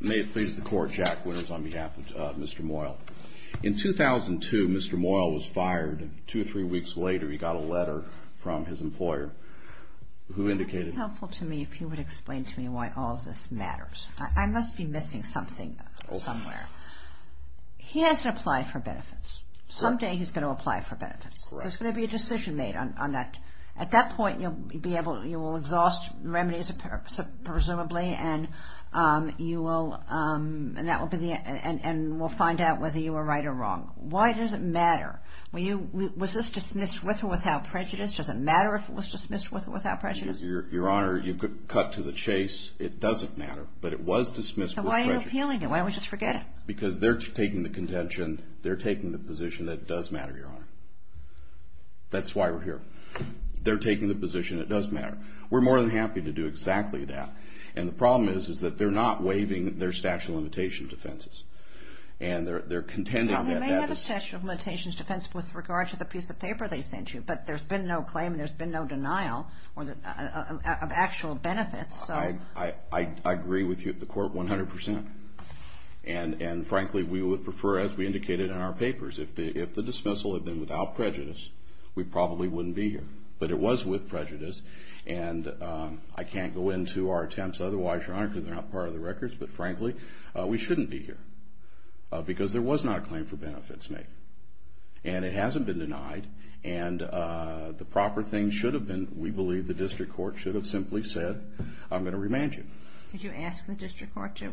May it please the Court, Jack Winters on behalf of Mr. Moyle. In 2002, Mr. Moyle was fired and two or three weeks later he got a letter from his employer who indicated... It would be helpful to me if you would explain to me why all of this matters. I must be missing something somewhere. He has to apply for benefits. Someday he's going to apply for benefits. There's going to be a decision made on that. At that point, you will exhaust remedies, presumably, and we'll find out whether you were right or wrong. Why does it matter? Was this dismissed with or without prejudice? Does it matter if it was dismissed with or without prejudice? Your Honor, you cut to the chase. It doesn't matter, but it was dismissed with prejudice. So why are you appealing it? Why don't we just forget it? Because they're taking the contention. They're taking the position that it does matter, Your Honor. That's why we're here. They're taking the position it does matter. We're more than happy to do exactly that. And the problem is that they're not waiving their statute of limitations defenses. And they're contending that that is... Well, they may have a statute of limitations defense with regard to the piece of paper they sent you, but there's been no claim and there's been no denial of actual benefits, so... I agree with you at the Court 100 percent. And, frankly, we would prefer, as we indicated in our papers, if the dismissal had been without prejudice, we probably wouldn't be here. But it was with prejudice. And I can't go into our attempts otherwise, Your Honor, because they're not part of the records. But, frankly, we shouldn't be here because there was not a claim for benefits made. And it hasn't been denied. And the proper thing should have been, we believe, the district court should have simply said, I'm going to remand you. Did you ask the district court to?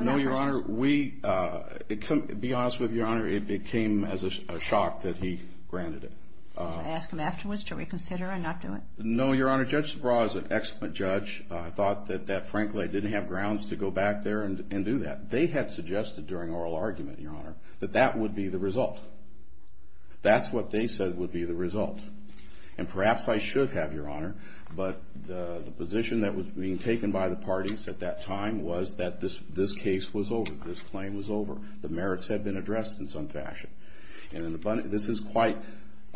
No, Your Honor. To be honest with you, Your Honor, it came as a shock that he granted it. Should I ask him afterwards? Should we consider and not do it? No, Your Honor. Judge DeBraw is an excellent judge. I thought that, frankly, I didn't have grounds to go back there and do that. They had suggested during oral argument, Your Honor, that that would be the result. That's what they said would be the result. And perhaps I should have, Your Honor, But the position that was being taken by the parties at that time was that this case was over. This claim was over. The merits had been addressed in some fashion. And this is quite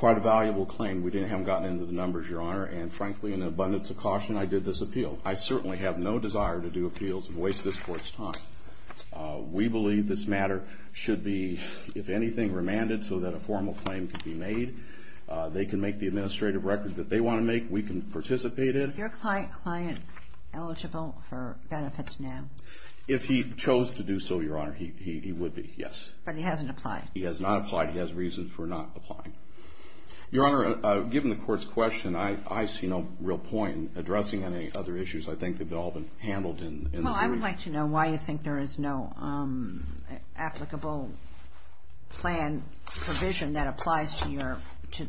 a valuable claim. We haven't gotten into the numbers, Your Honor. And, frankly, in abundance of caution, I did this appeal. I certainly have no desire to do appeals and waste this court's time. We believe this matter should be, if anything, remanded so that a formal claim can be made. They can make the administrative records that they want to make. We can participate in it. Is your client eligible for benefits now? If he chose to do so, Your Honor, he would be, yes. But he hasn't applied. He has not applied. He has reason for not applying. Your Honor, given the court's question, I see no real point in addressing any other issues. I think they've all been handled in the brief. Well, I would like to know why you think there is no applicable plan provision that applies to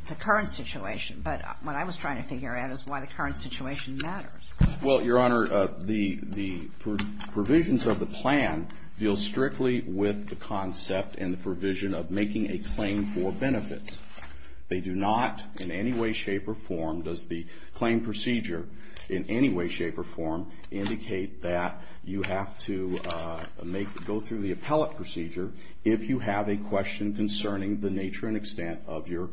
the current situation. But what I was trying to figure out is why the current situation matters. Well, Your Honor, the provisions of the plan deal strictly with the concept and the provision of making a claim for benefits. They do not in any way, shape, or form does the claim procedure in any way, shape, or form indicate that you have to go through the appellate procedure if you have a question concerning the nature and extent of your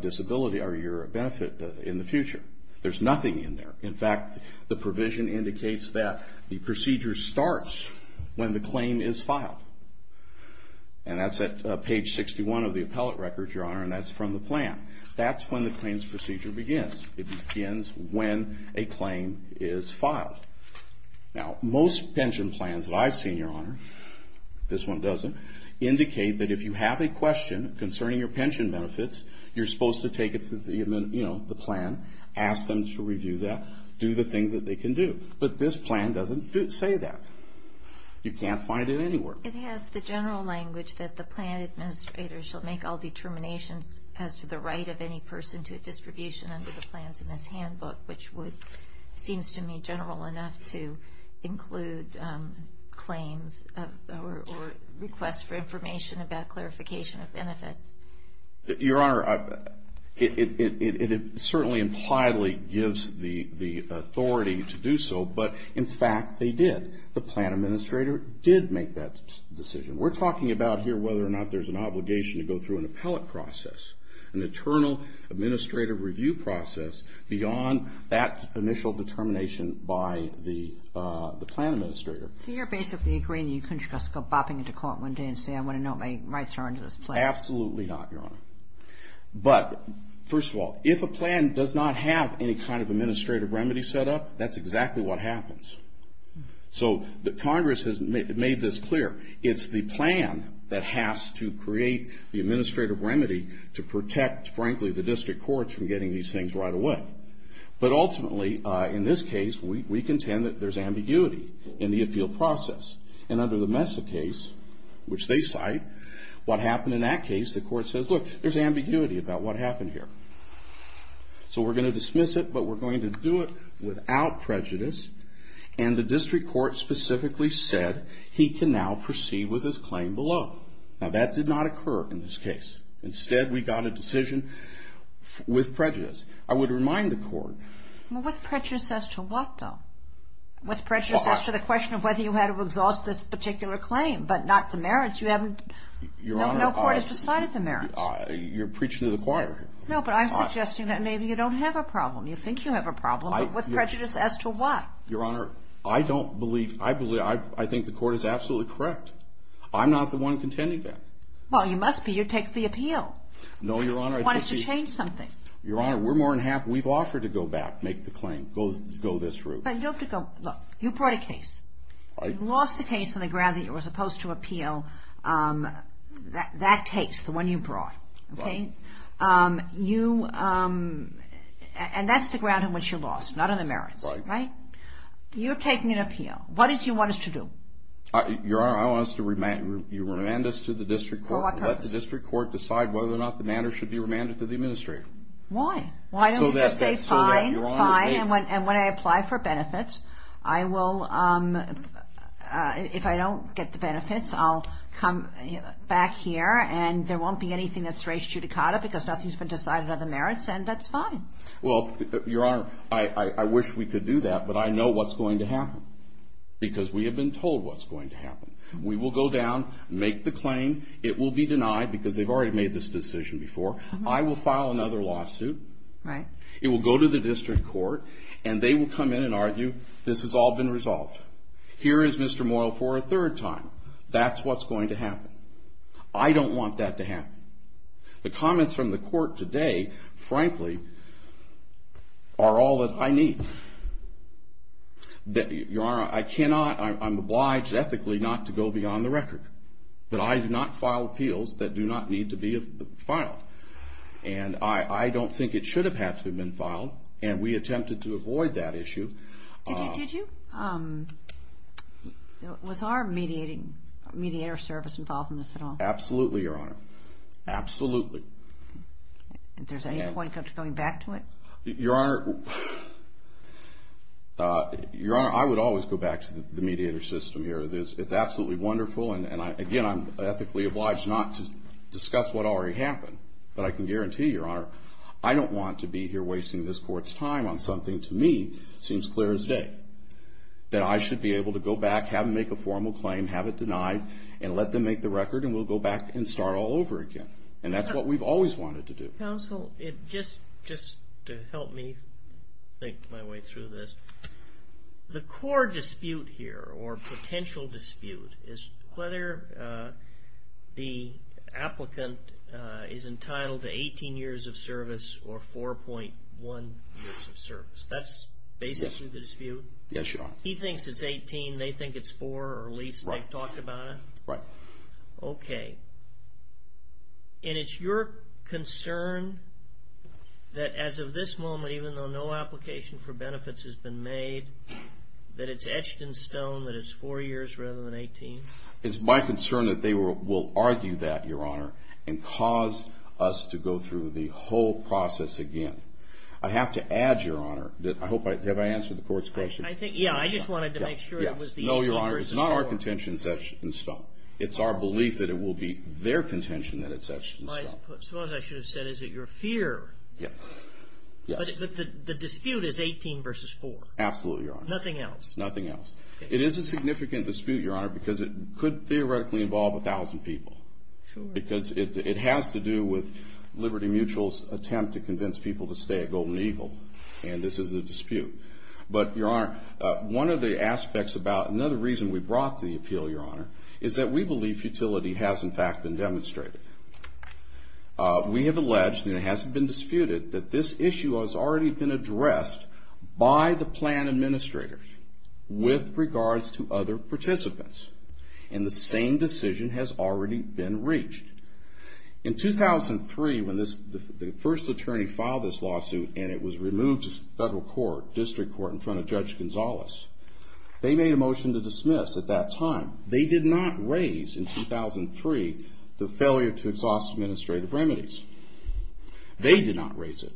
disability or your benefit in the future. There's nothing in there. In fact, the provision indicates that the procedure starts when the claim is filed. And that's at page 61 of the appellate record, Your Honor, and that's from the plan. That's when the claims procedure begins. It begins when a claim is filed. Now, most pension plans that I've seen, Your Honor, this one doesn't, indicate that if you have a question concerning your pension benefits, you're supposed to take it to the plan, ask them to review that, do the things that they can do. But this plan doesn't say that. You can't find it anywhere. It has the general language that the plan administrator shall make all determinations as to the right of any person to a distribution under the plans in this handbook, which seems to me general enough to include claims or requests for information about clarification of benefits. Your Honor, it certainly impliedly gives the authority to do so, but, in fact, they did. The plan administrator did make that decision. We're talking about here whether or not there's an obligation to go through an appellate process, an internal administrative review process beyond that initial determination by the plan administrator. So you're basically agreeing that you couldn't just go bopping into court one day and say, I want to know what my rights are under this plan? Absolutely not, Your Honor. But, first of all, if a plan does not have any kind of administrative remedy set up, that's exactly what happens. So Congress has made this clear. It's the plan that has to create the administrative remedy to protect, frankly, the district courts from getting these things right away. But, ultimately, in this case, we contend that there's ambiguity in the appeal process. And under the Mesa case, which they cite, what happened in that case, the court says, look, there's ambiguity about what happened here. So we're going to dismiss it, but we're going to do it without prejudice. And the district court specifically said he can now proceed with his claim below. Now, that did not occur in this case. Instead, we got a decision with prejudice. I would remind the court. Well, with prejudice as to what, though? With prejudice as to the question of whether you had to exhaust this particular claim, but not the merits. No court has decided the merits. You're preaching to the choir here. No, but I'm suggesting that maybe you don't have a problem. You think you have a problem, but with prejudice as to what? Your Honor, I don't believe. I think the court is absolutely correct. I'm not the one contending that. Well, you must be. You take the appeal. No, Your Honor. You want us to change something. Your Honor, we're more than happy. We've offered to go back, make the claim, go this route. But you have to go. Look, you brought a case. You lost the case on the ground that you were supposed to appeal. That case, the one you brought, okay? And that's the ground on which you lost, not on the merits, right? Right. You're taking an appeal. What is it you want us to do? Your Honor, I want you to remand us to the district court. For what purpose? Let the district court decide whether or not the matter should be remanded to the administrator. Why? Why don't you just say, fine, fine, and when I apply for benefits, I will, if I don't get the benefits, I'll come back here and there won't be anything that's raised judicata because nothing's been decided on the merits, and that's fine. Well, Your Honor, I wish we could do that, but I know what's going to happen because we have been told what's going to happen. We will go down, make the claim. It will be denied because they've already made this decision before. I will file another lawsuit. Right. It will go to the district court, and they will come in and argue, this has all been resolved. Here is Mr. Moyle for a third time. That's what's going to happen. I don't want that to happen. The comments from the court today, frankly, are all that I need. Your Honor, I cannot, I'm obliged ethically not to go beyond the record, but I do not file appeals that do not need to be filed, and I don't think it should have had to have been filed, and we attempted to avoid that issue. Did you? Was our mediator service involved in this at all? Absolutely, Your Honor. Absolutely. If there's any point of going back to it? Your Honor, I would always go back to the mediator system here. It's absolutely wonderful, and, again, I'm ethically obliged not to discuss what already happened, but I can guarantee, Your Honor, I don't want to be here wasting this court's time on something, to me, seems clear as day, that I should be able to go back, have them make a formal claim, have it denied, and let them make the record, and we'll go back and start all over again, and that's what we've always wanted to do. Counsel, just to help me think my way through this, the core dispute here, or potential dispute, is whether the applicant is entitled to 18 years of service or 4.1 years of service. That's basically the dispute? Yes, Your Honor. He thinks it's 18, they think it's 4, or at least they've talked about it? Right. Okay. And it's your concern that as of this moment, even though no application for benefits has been made, that it's etched in stone that it's 4 years rather than 18? It's my concern that they will argue that, Your Honor, and cause us to go through the whole process again. I have to add, Your Honor, that I hope I've answered the Court's question. Yeah, I just wanted to make sure it was the 18 versus 4. No, Your Honor, it's not our contention that's etched in stone. It's our belief that it will be their contention that it's etched in stone. As far as I should have said, is it your fear? Yes. But the dispute is 18 versus 4? Absolutely, Your Honor. Nothing else? Nothing else. It is a significant dispute, Your Honor, because it could theoretically involve 1,000 people. Sure. Because it has to do with Liberty Mutual's attempt to convince people to stay at Golden Eagle, and this is a dispute. But, Your Honor, one of the aspects about another reason we brought to the appeal, Your Honor, is that we believe futility has, in fact, been demonstrated. We have alleged, and it hasn't been disputed, that this issue has already been addressed by the plan administrators with regards to other participants, and the same decision has already been reached. In 2003, when the first attorney filed this lawsuit, and it was removed to federal court, district court, in front of Judge Gonzales, they made a motion to dismiss at that time. They did not raise, in 2003, the failure to exhaust administrative remedies. They did not raise it.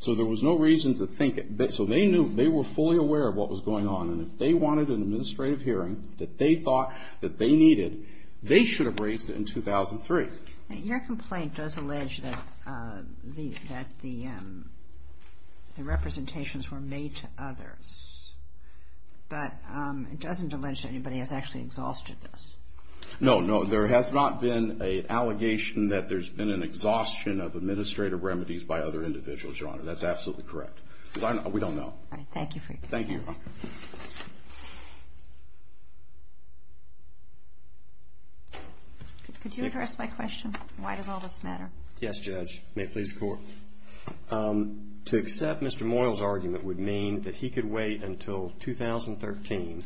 So there was no reason to think it. So they knew. They were fully aware of what was going on, and if they wanted an administrative hearing that they thought that they needed, they should have raised it in 2003. Your complaint does allege that the representations were made to others, but it doesn't allege that anybody has actually exhausted this. No, no. There has not been an allegation that there's been an exhaustion of administrative remedies by other individuals, Your Honor. That's absolutely correct. We don't know. All right. Thank you for your answer. Thank you. Could you address my question? Why does all this matter? Yes, Judge. May it please the Court. To accept Mr. Moyle's argument would mean that he could wait until 2013,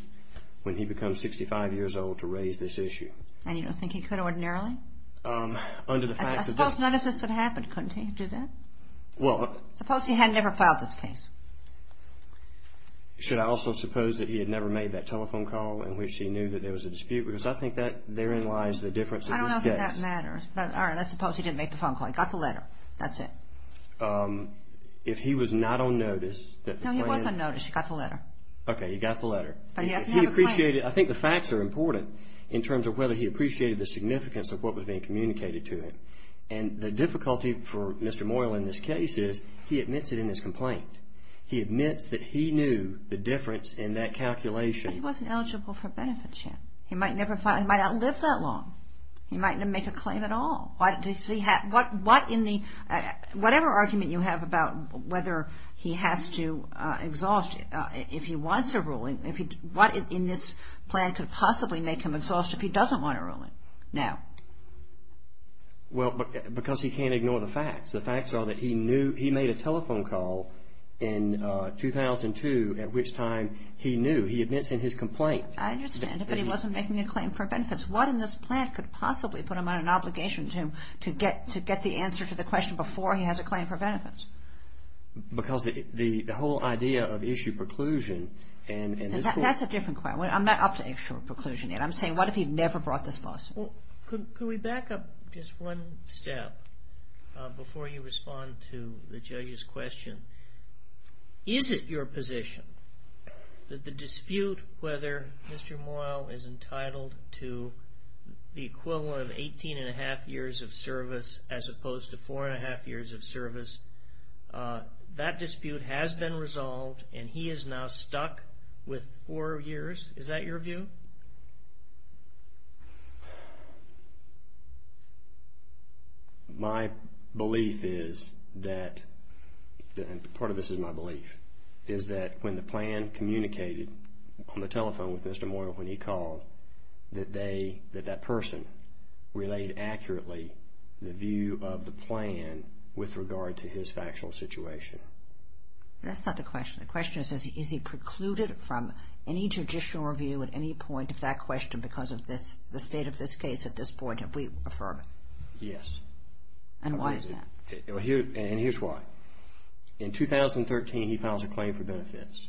when he becomes 65 years old, to raise this issue. And you don't think he could ordinarily? Under the facts of this. I suppose none of this would have happened, couldn't he? Well. Suppose he had never filed this case. Should I also suppose that he had never made that telephone call in which he knew that there was a dispute? Because I think that therein lies the difference of his case. I don't know if that matters. All right. Let's suppose he didn't make the phone call. He got the letter. That's it. If he was not on notice. No, he was on notice. He got the letter. Okay. He got the letter. But he doesn't have a claim. I think the facts are important in terms of whether he appreciated the significance of what was being communicated to him. And the difficulty for Mr. Moyle in this case is he admits it in his complaint. He admits that he knew the difference in that calculation. But he wasn't eligible for benefits yet. He might not have lived that long. He might not make a claim at all. Whatever argument you have about whether he has to exhaust if he wants a ruling, what in this plan could possibly make him exhaust if he doesn't want a ruling now? Well, because he can't ignore the facts. The facts are that he made a telephone call in 2002 at which time he knew. He admits in his complaint. I understand. But he wasn't making a claim for benefits. What in this plan could possibly put him on an obligation to get the answer to the question before he has a claim for benefits? Because the whole idea of issue preclusion and this court. That's a different question. I'm not up to issue preclusion yet. I'm saying what if he never brought this lawsuit? Could we back up just one step before you respond to the judge's question? Is it your position that the dispute whether Mr. Moyle is entitled to the equivalent of 18 and a half years of service as opposed to four and a half years of service, that dispute has been resolved and he is now stuck with four years? Is that your view? My belief is that, and part of this is my belief, is that when the plan communicated on the telephone with Mr. Moyle when he called, that that person relayed accurately the view of the plan with regard to his factual situation. That's not the question. The question is, is he precluded from any judicial review at any point of that question because of the state of this case at this point? Have we affirmed it? Yes. And why is that? And here's why. In 2013, he files a claim for benefits.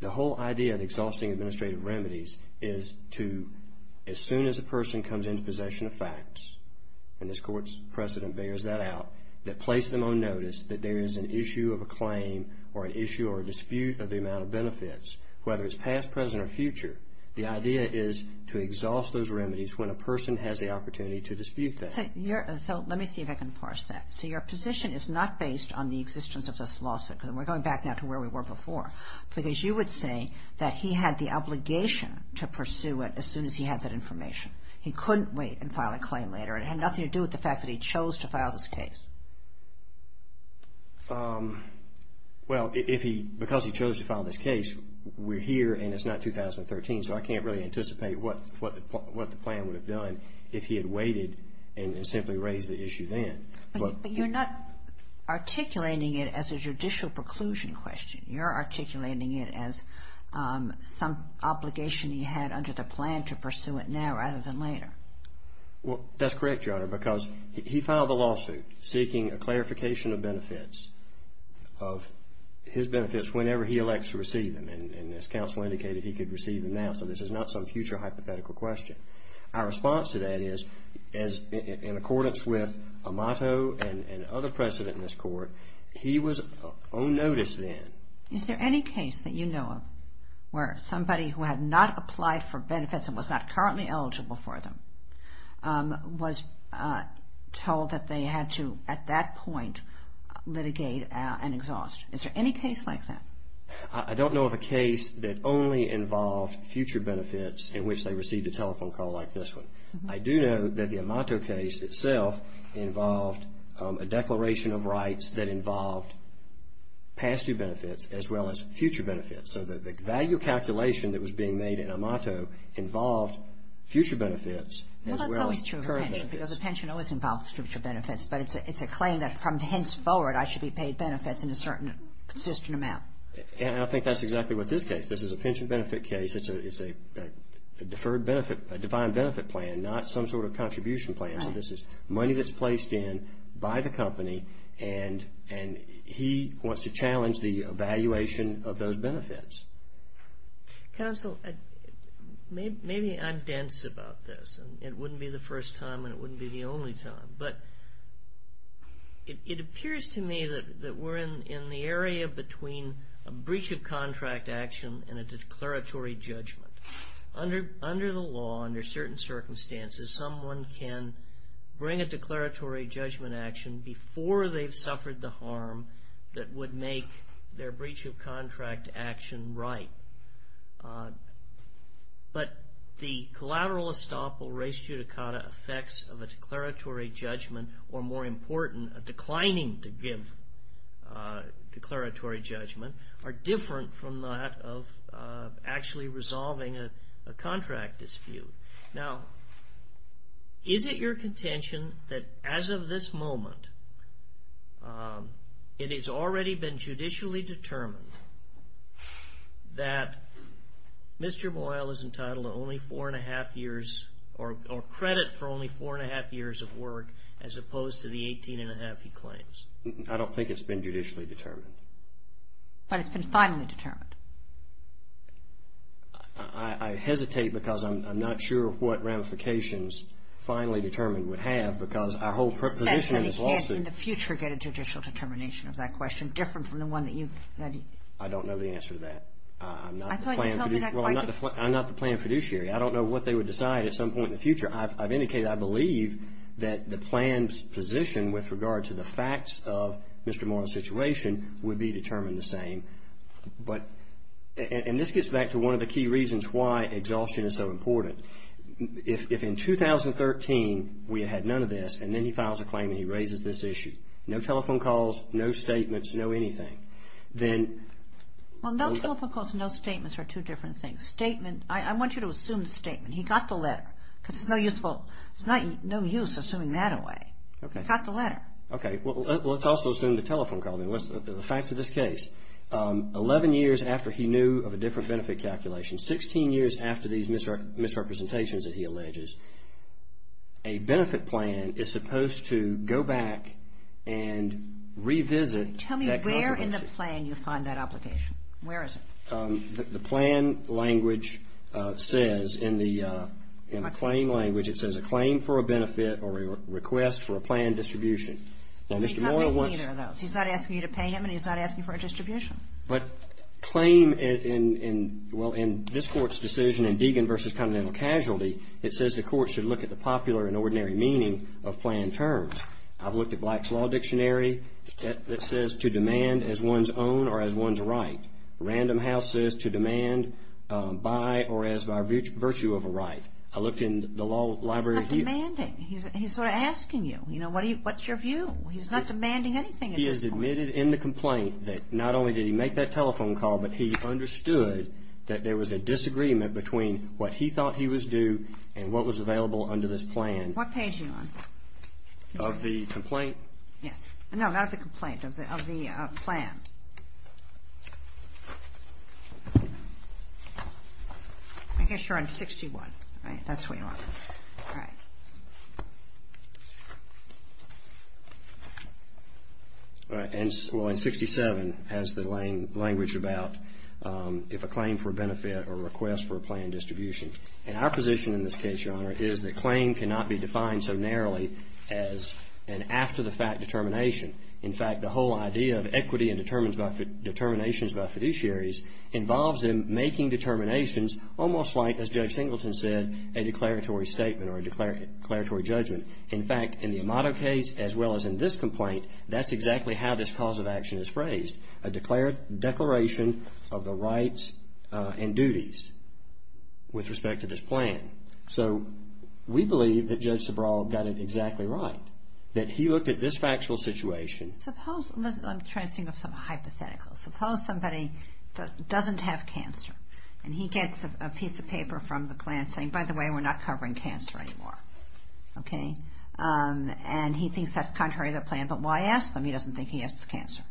The whole idea of exhausting administrative remedies is to, as soon as a person comes into possession of facts, and this Court's precedent bears that out, that place them on notice that there is an issue of a claim or an issue or a dispute of the amount of benefits, whether it's past, present, or future. The idea is to exhaust those remedies when a person has the opportunity to dispute that. So let me see if I can parse that. So your position is not based on the existence of this lawsuit, because we're going back now to where we were before, because you would say that he had the obligation to pursue it as soon as he had that information. He couldn't wait and file a claim later. It had nothing to do with the fact that he chose to file this case. Well, because he chose to file this case, we're here and it's not 2013, so I can't really anticipate what the plan would have done if he had waited and simply raised the issue then. But you're not articulating it as a judicial preclusion question. You're articulating it as some obligation he had under the plan to pursue it now rather than later. Well, that's correct, Your Honor, because he filed the lawsuit seeking a clarification of benefits, of his benefits whenever he elects to receive them, and as counsel indicated, he could receive them now, so this is not some future hypothetical question. Our response to that is, in accordance with Amato and other precedent in this court, he was on notice then. Is there any case that you know of where somebody who had not applied for benefits and was not currently eligible for them was told that they had to, at that point, litigate an exhaust? Is there any case like that? I don't know of a case that only involved future benefits in which they received a telephone call like this one. I do know that the Amato case itself involved a declaration of rights that involved past due benefits as well as future benefits. So the value calculation that was being made in Amato involved future benefits as well as current benefits. Well, that's always true of a pension, because a pension always involves future benefits, but it's a claim that from henceforward I should be paid benefits in a certain consistent amount. And I think that's exactly what this case. This is a pension benefit case. It's a deferred benefit, a defined benefit plan, not some sort of contribution plan. So this is money that's placed in by the company, and he wants to challenge the evaluation of those benefits. Counsel, maybe I'm dense about this, and it wouldn't be the first time and it wouldn't be the only time, but it appears to me that we're in the area between a breach of contract action and a declaratory judgment. Under the law, under certain circumstances, someone can bring a declaratory judgment action before they've suffered the harm that would make their breach of contract action right. But the collateral estoppel res judicata effects of a declaratory judgment, or more important, a declining to give declaratory judgment, are different from that of actually resolving a contract dispute. Now, is it your contention that as of this moment, it has already been judicially determined that Mr. Boyle is entitled to only four-and-a-half years, or credit for only four-and-a-half years of work as opposed to the 18-and-a-half he claims? I don't think it's been judicially determined. But it's been finally determined. I hesitate because I'm not sure what ramifications finally determined would have because our whole position in this lawsuit You can't in the future get a judicial determination of that question different from the one that you've I don't know the answer to that. I'm not the plan fiduciary. I don't know what they would decide at some point in the future. I've indicated I believe that the plan's position with regard to the facts of Mr. Boyle's situation would be determined the same. And this gets back to one of the key reasons why exhaustion is so important. If in 2013 we had none of this and then he files a claim and he raises this issue, no telephone calls, no statements, no anything, then Well, no telephone calls and no statements are two different things. I want you to assume the statement. He got the letter because it's no use assuming that away. He got the letter. Okay. Well, let's also assume the telephone call then. The facts of this case, 11 years after he knew of a different benefit calculation, 16 years after these misrepresentations that he alleges, a benefit plan is supposed to go back and revisit that consequence. Tell me where in the plan you find that application. Where is it? The plan language says in the claim language it says a claim for a benefit or a request for a plan distribution. He's not making either of those. He's not asking you to pay him and he's not asking for a distribution. But claim in, well, in this court's decision in Deegan v. Continental Casualty, it says the court should look at the popular and ordinary meaning of plan terms. I've looked at Black's Law Dictionary. It says to demand as one's own or as one's right. Random House says to demand by or as by virtue of a right. I looked in the law library. He's not demanding. He's sort of asking you, you know, what's your view? He's not demanding anything at this point. He has admitted in the complaint that not only did he make that telephone call, but he understood that there was a disagreement between what he thought he was due and what was available under this plan. What page are you on? Of the complaint. Yes. No, not of the complaint, of the plan. I guess you're on 61, right? That's where you are. All right. Well, and 67 has the language about if a claim for benefit or request for a plan distribution. And our position in this case, Your Honor, is that claim cannot be defined so narrowly as an after-the-fact determination. In fact, the whole idea of equity and determinations by fiduciaries involves in making determinations almost like, as Judge Singleton said, a declaratory statement or a declaratory judgment. In fact, in the Amato case as well as in this complaint, that's exactly how this cause of action is phrased, a declaration of the rights and duties with respect to this plan. So we believe that Judge Sobral got it exactly right, that he looked at this factual situation. Suppose, I'm trying to think of some hypothetical. Suppose somebody doesn't have cancer, and he gets a piece of paper from the plan saying, by the way, we're not covering cancer anymore. Okay? And he thinks that's contrary to the plan, but why ask them? He doesn't think he has cancer.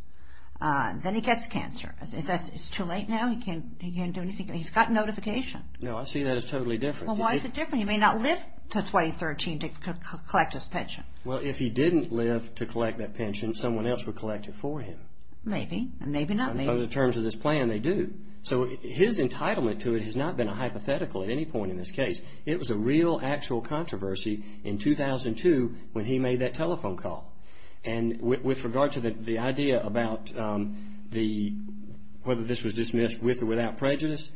Then he gets cancer. Is that too late now? He can't do anything? He's got notification. No, I see that as totally different. Well, why is it different? He may not live to 2013 to collect his pension. Well, if he didn't live to collect that pension, someone else would collect it for him. Maybe, and maybe not me. In terms of this plan, they do. So his entitlement to it has not been a hypothetical at any point in this case. It was a real, actual controversy in 2002 when he made that telephone call. And with regard to the idea about whether this was dismissed with or without prejudice,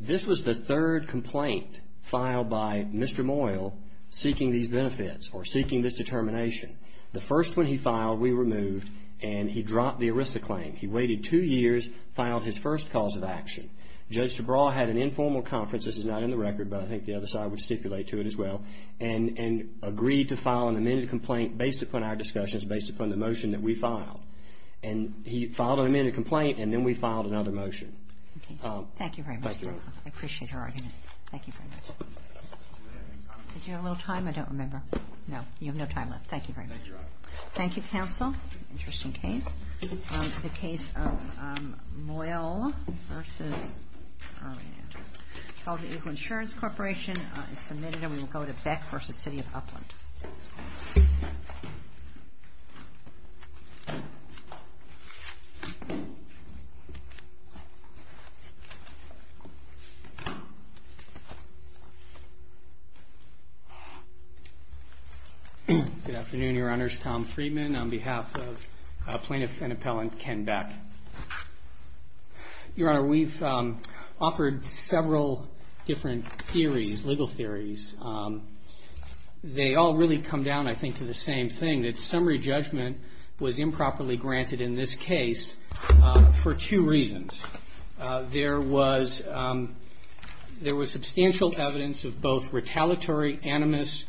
this was the third complaint filed by Mr. Moyle seeking these benefits or seeking this determination. The first one he filed, we removed, and he dropped the ERISA claim. He waited two years, filed his first cause of action. Judge Subraw had an informal conference. This is not in the record, but I think the other side would stipulate to it as well, and agreed to file an amended complaint based upon our discussions, based upon the motion that we filed. And he filed an amended complaint, and then we filed another motion. Thank you very much. Thank you. I appreciate your argument. Thank you very much. Did you have a little time? I don't remember. No, you have no time left. Thank you very much. Thank you, Your Honor. Thank you, counsel. Interesting case. The case of Moyle v. Elder Eagle Insurance Corporation is submitted, and we will go to Beck v. City of Upland. Good afternoon, Your Honors. Tom Friedman on behalf of Plaintiff and Appellant Ken Beck. Your Honor, we've offered several different theories, legal theories. They all really come down, I think, to the same thing, that summary judgment was improperly granted in this case for two reasons. There was substantial evidence of both retaliatory animus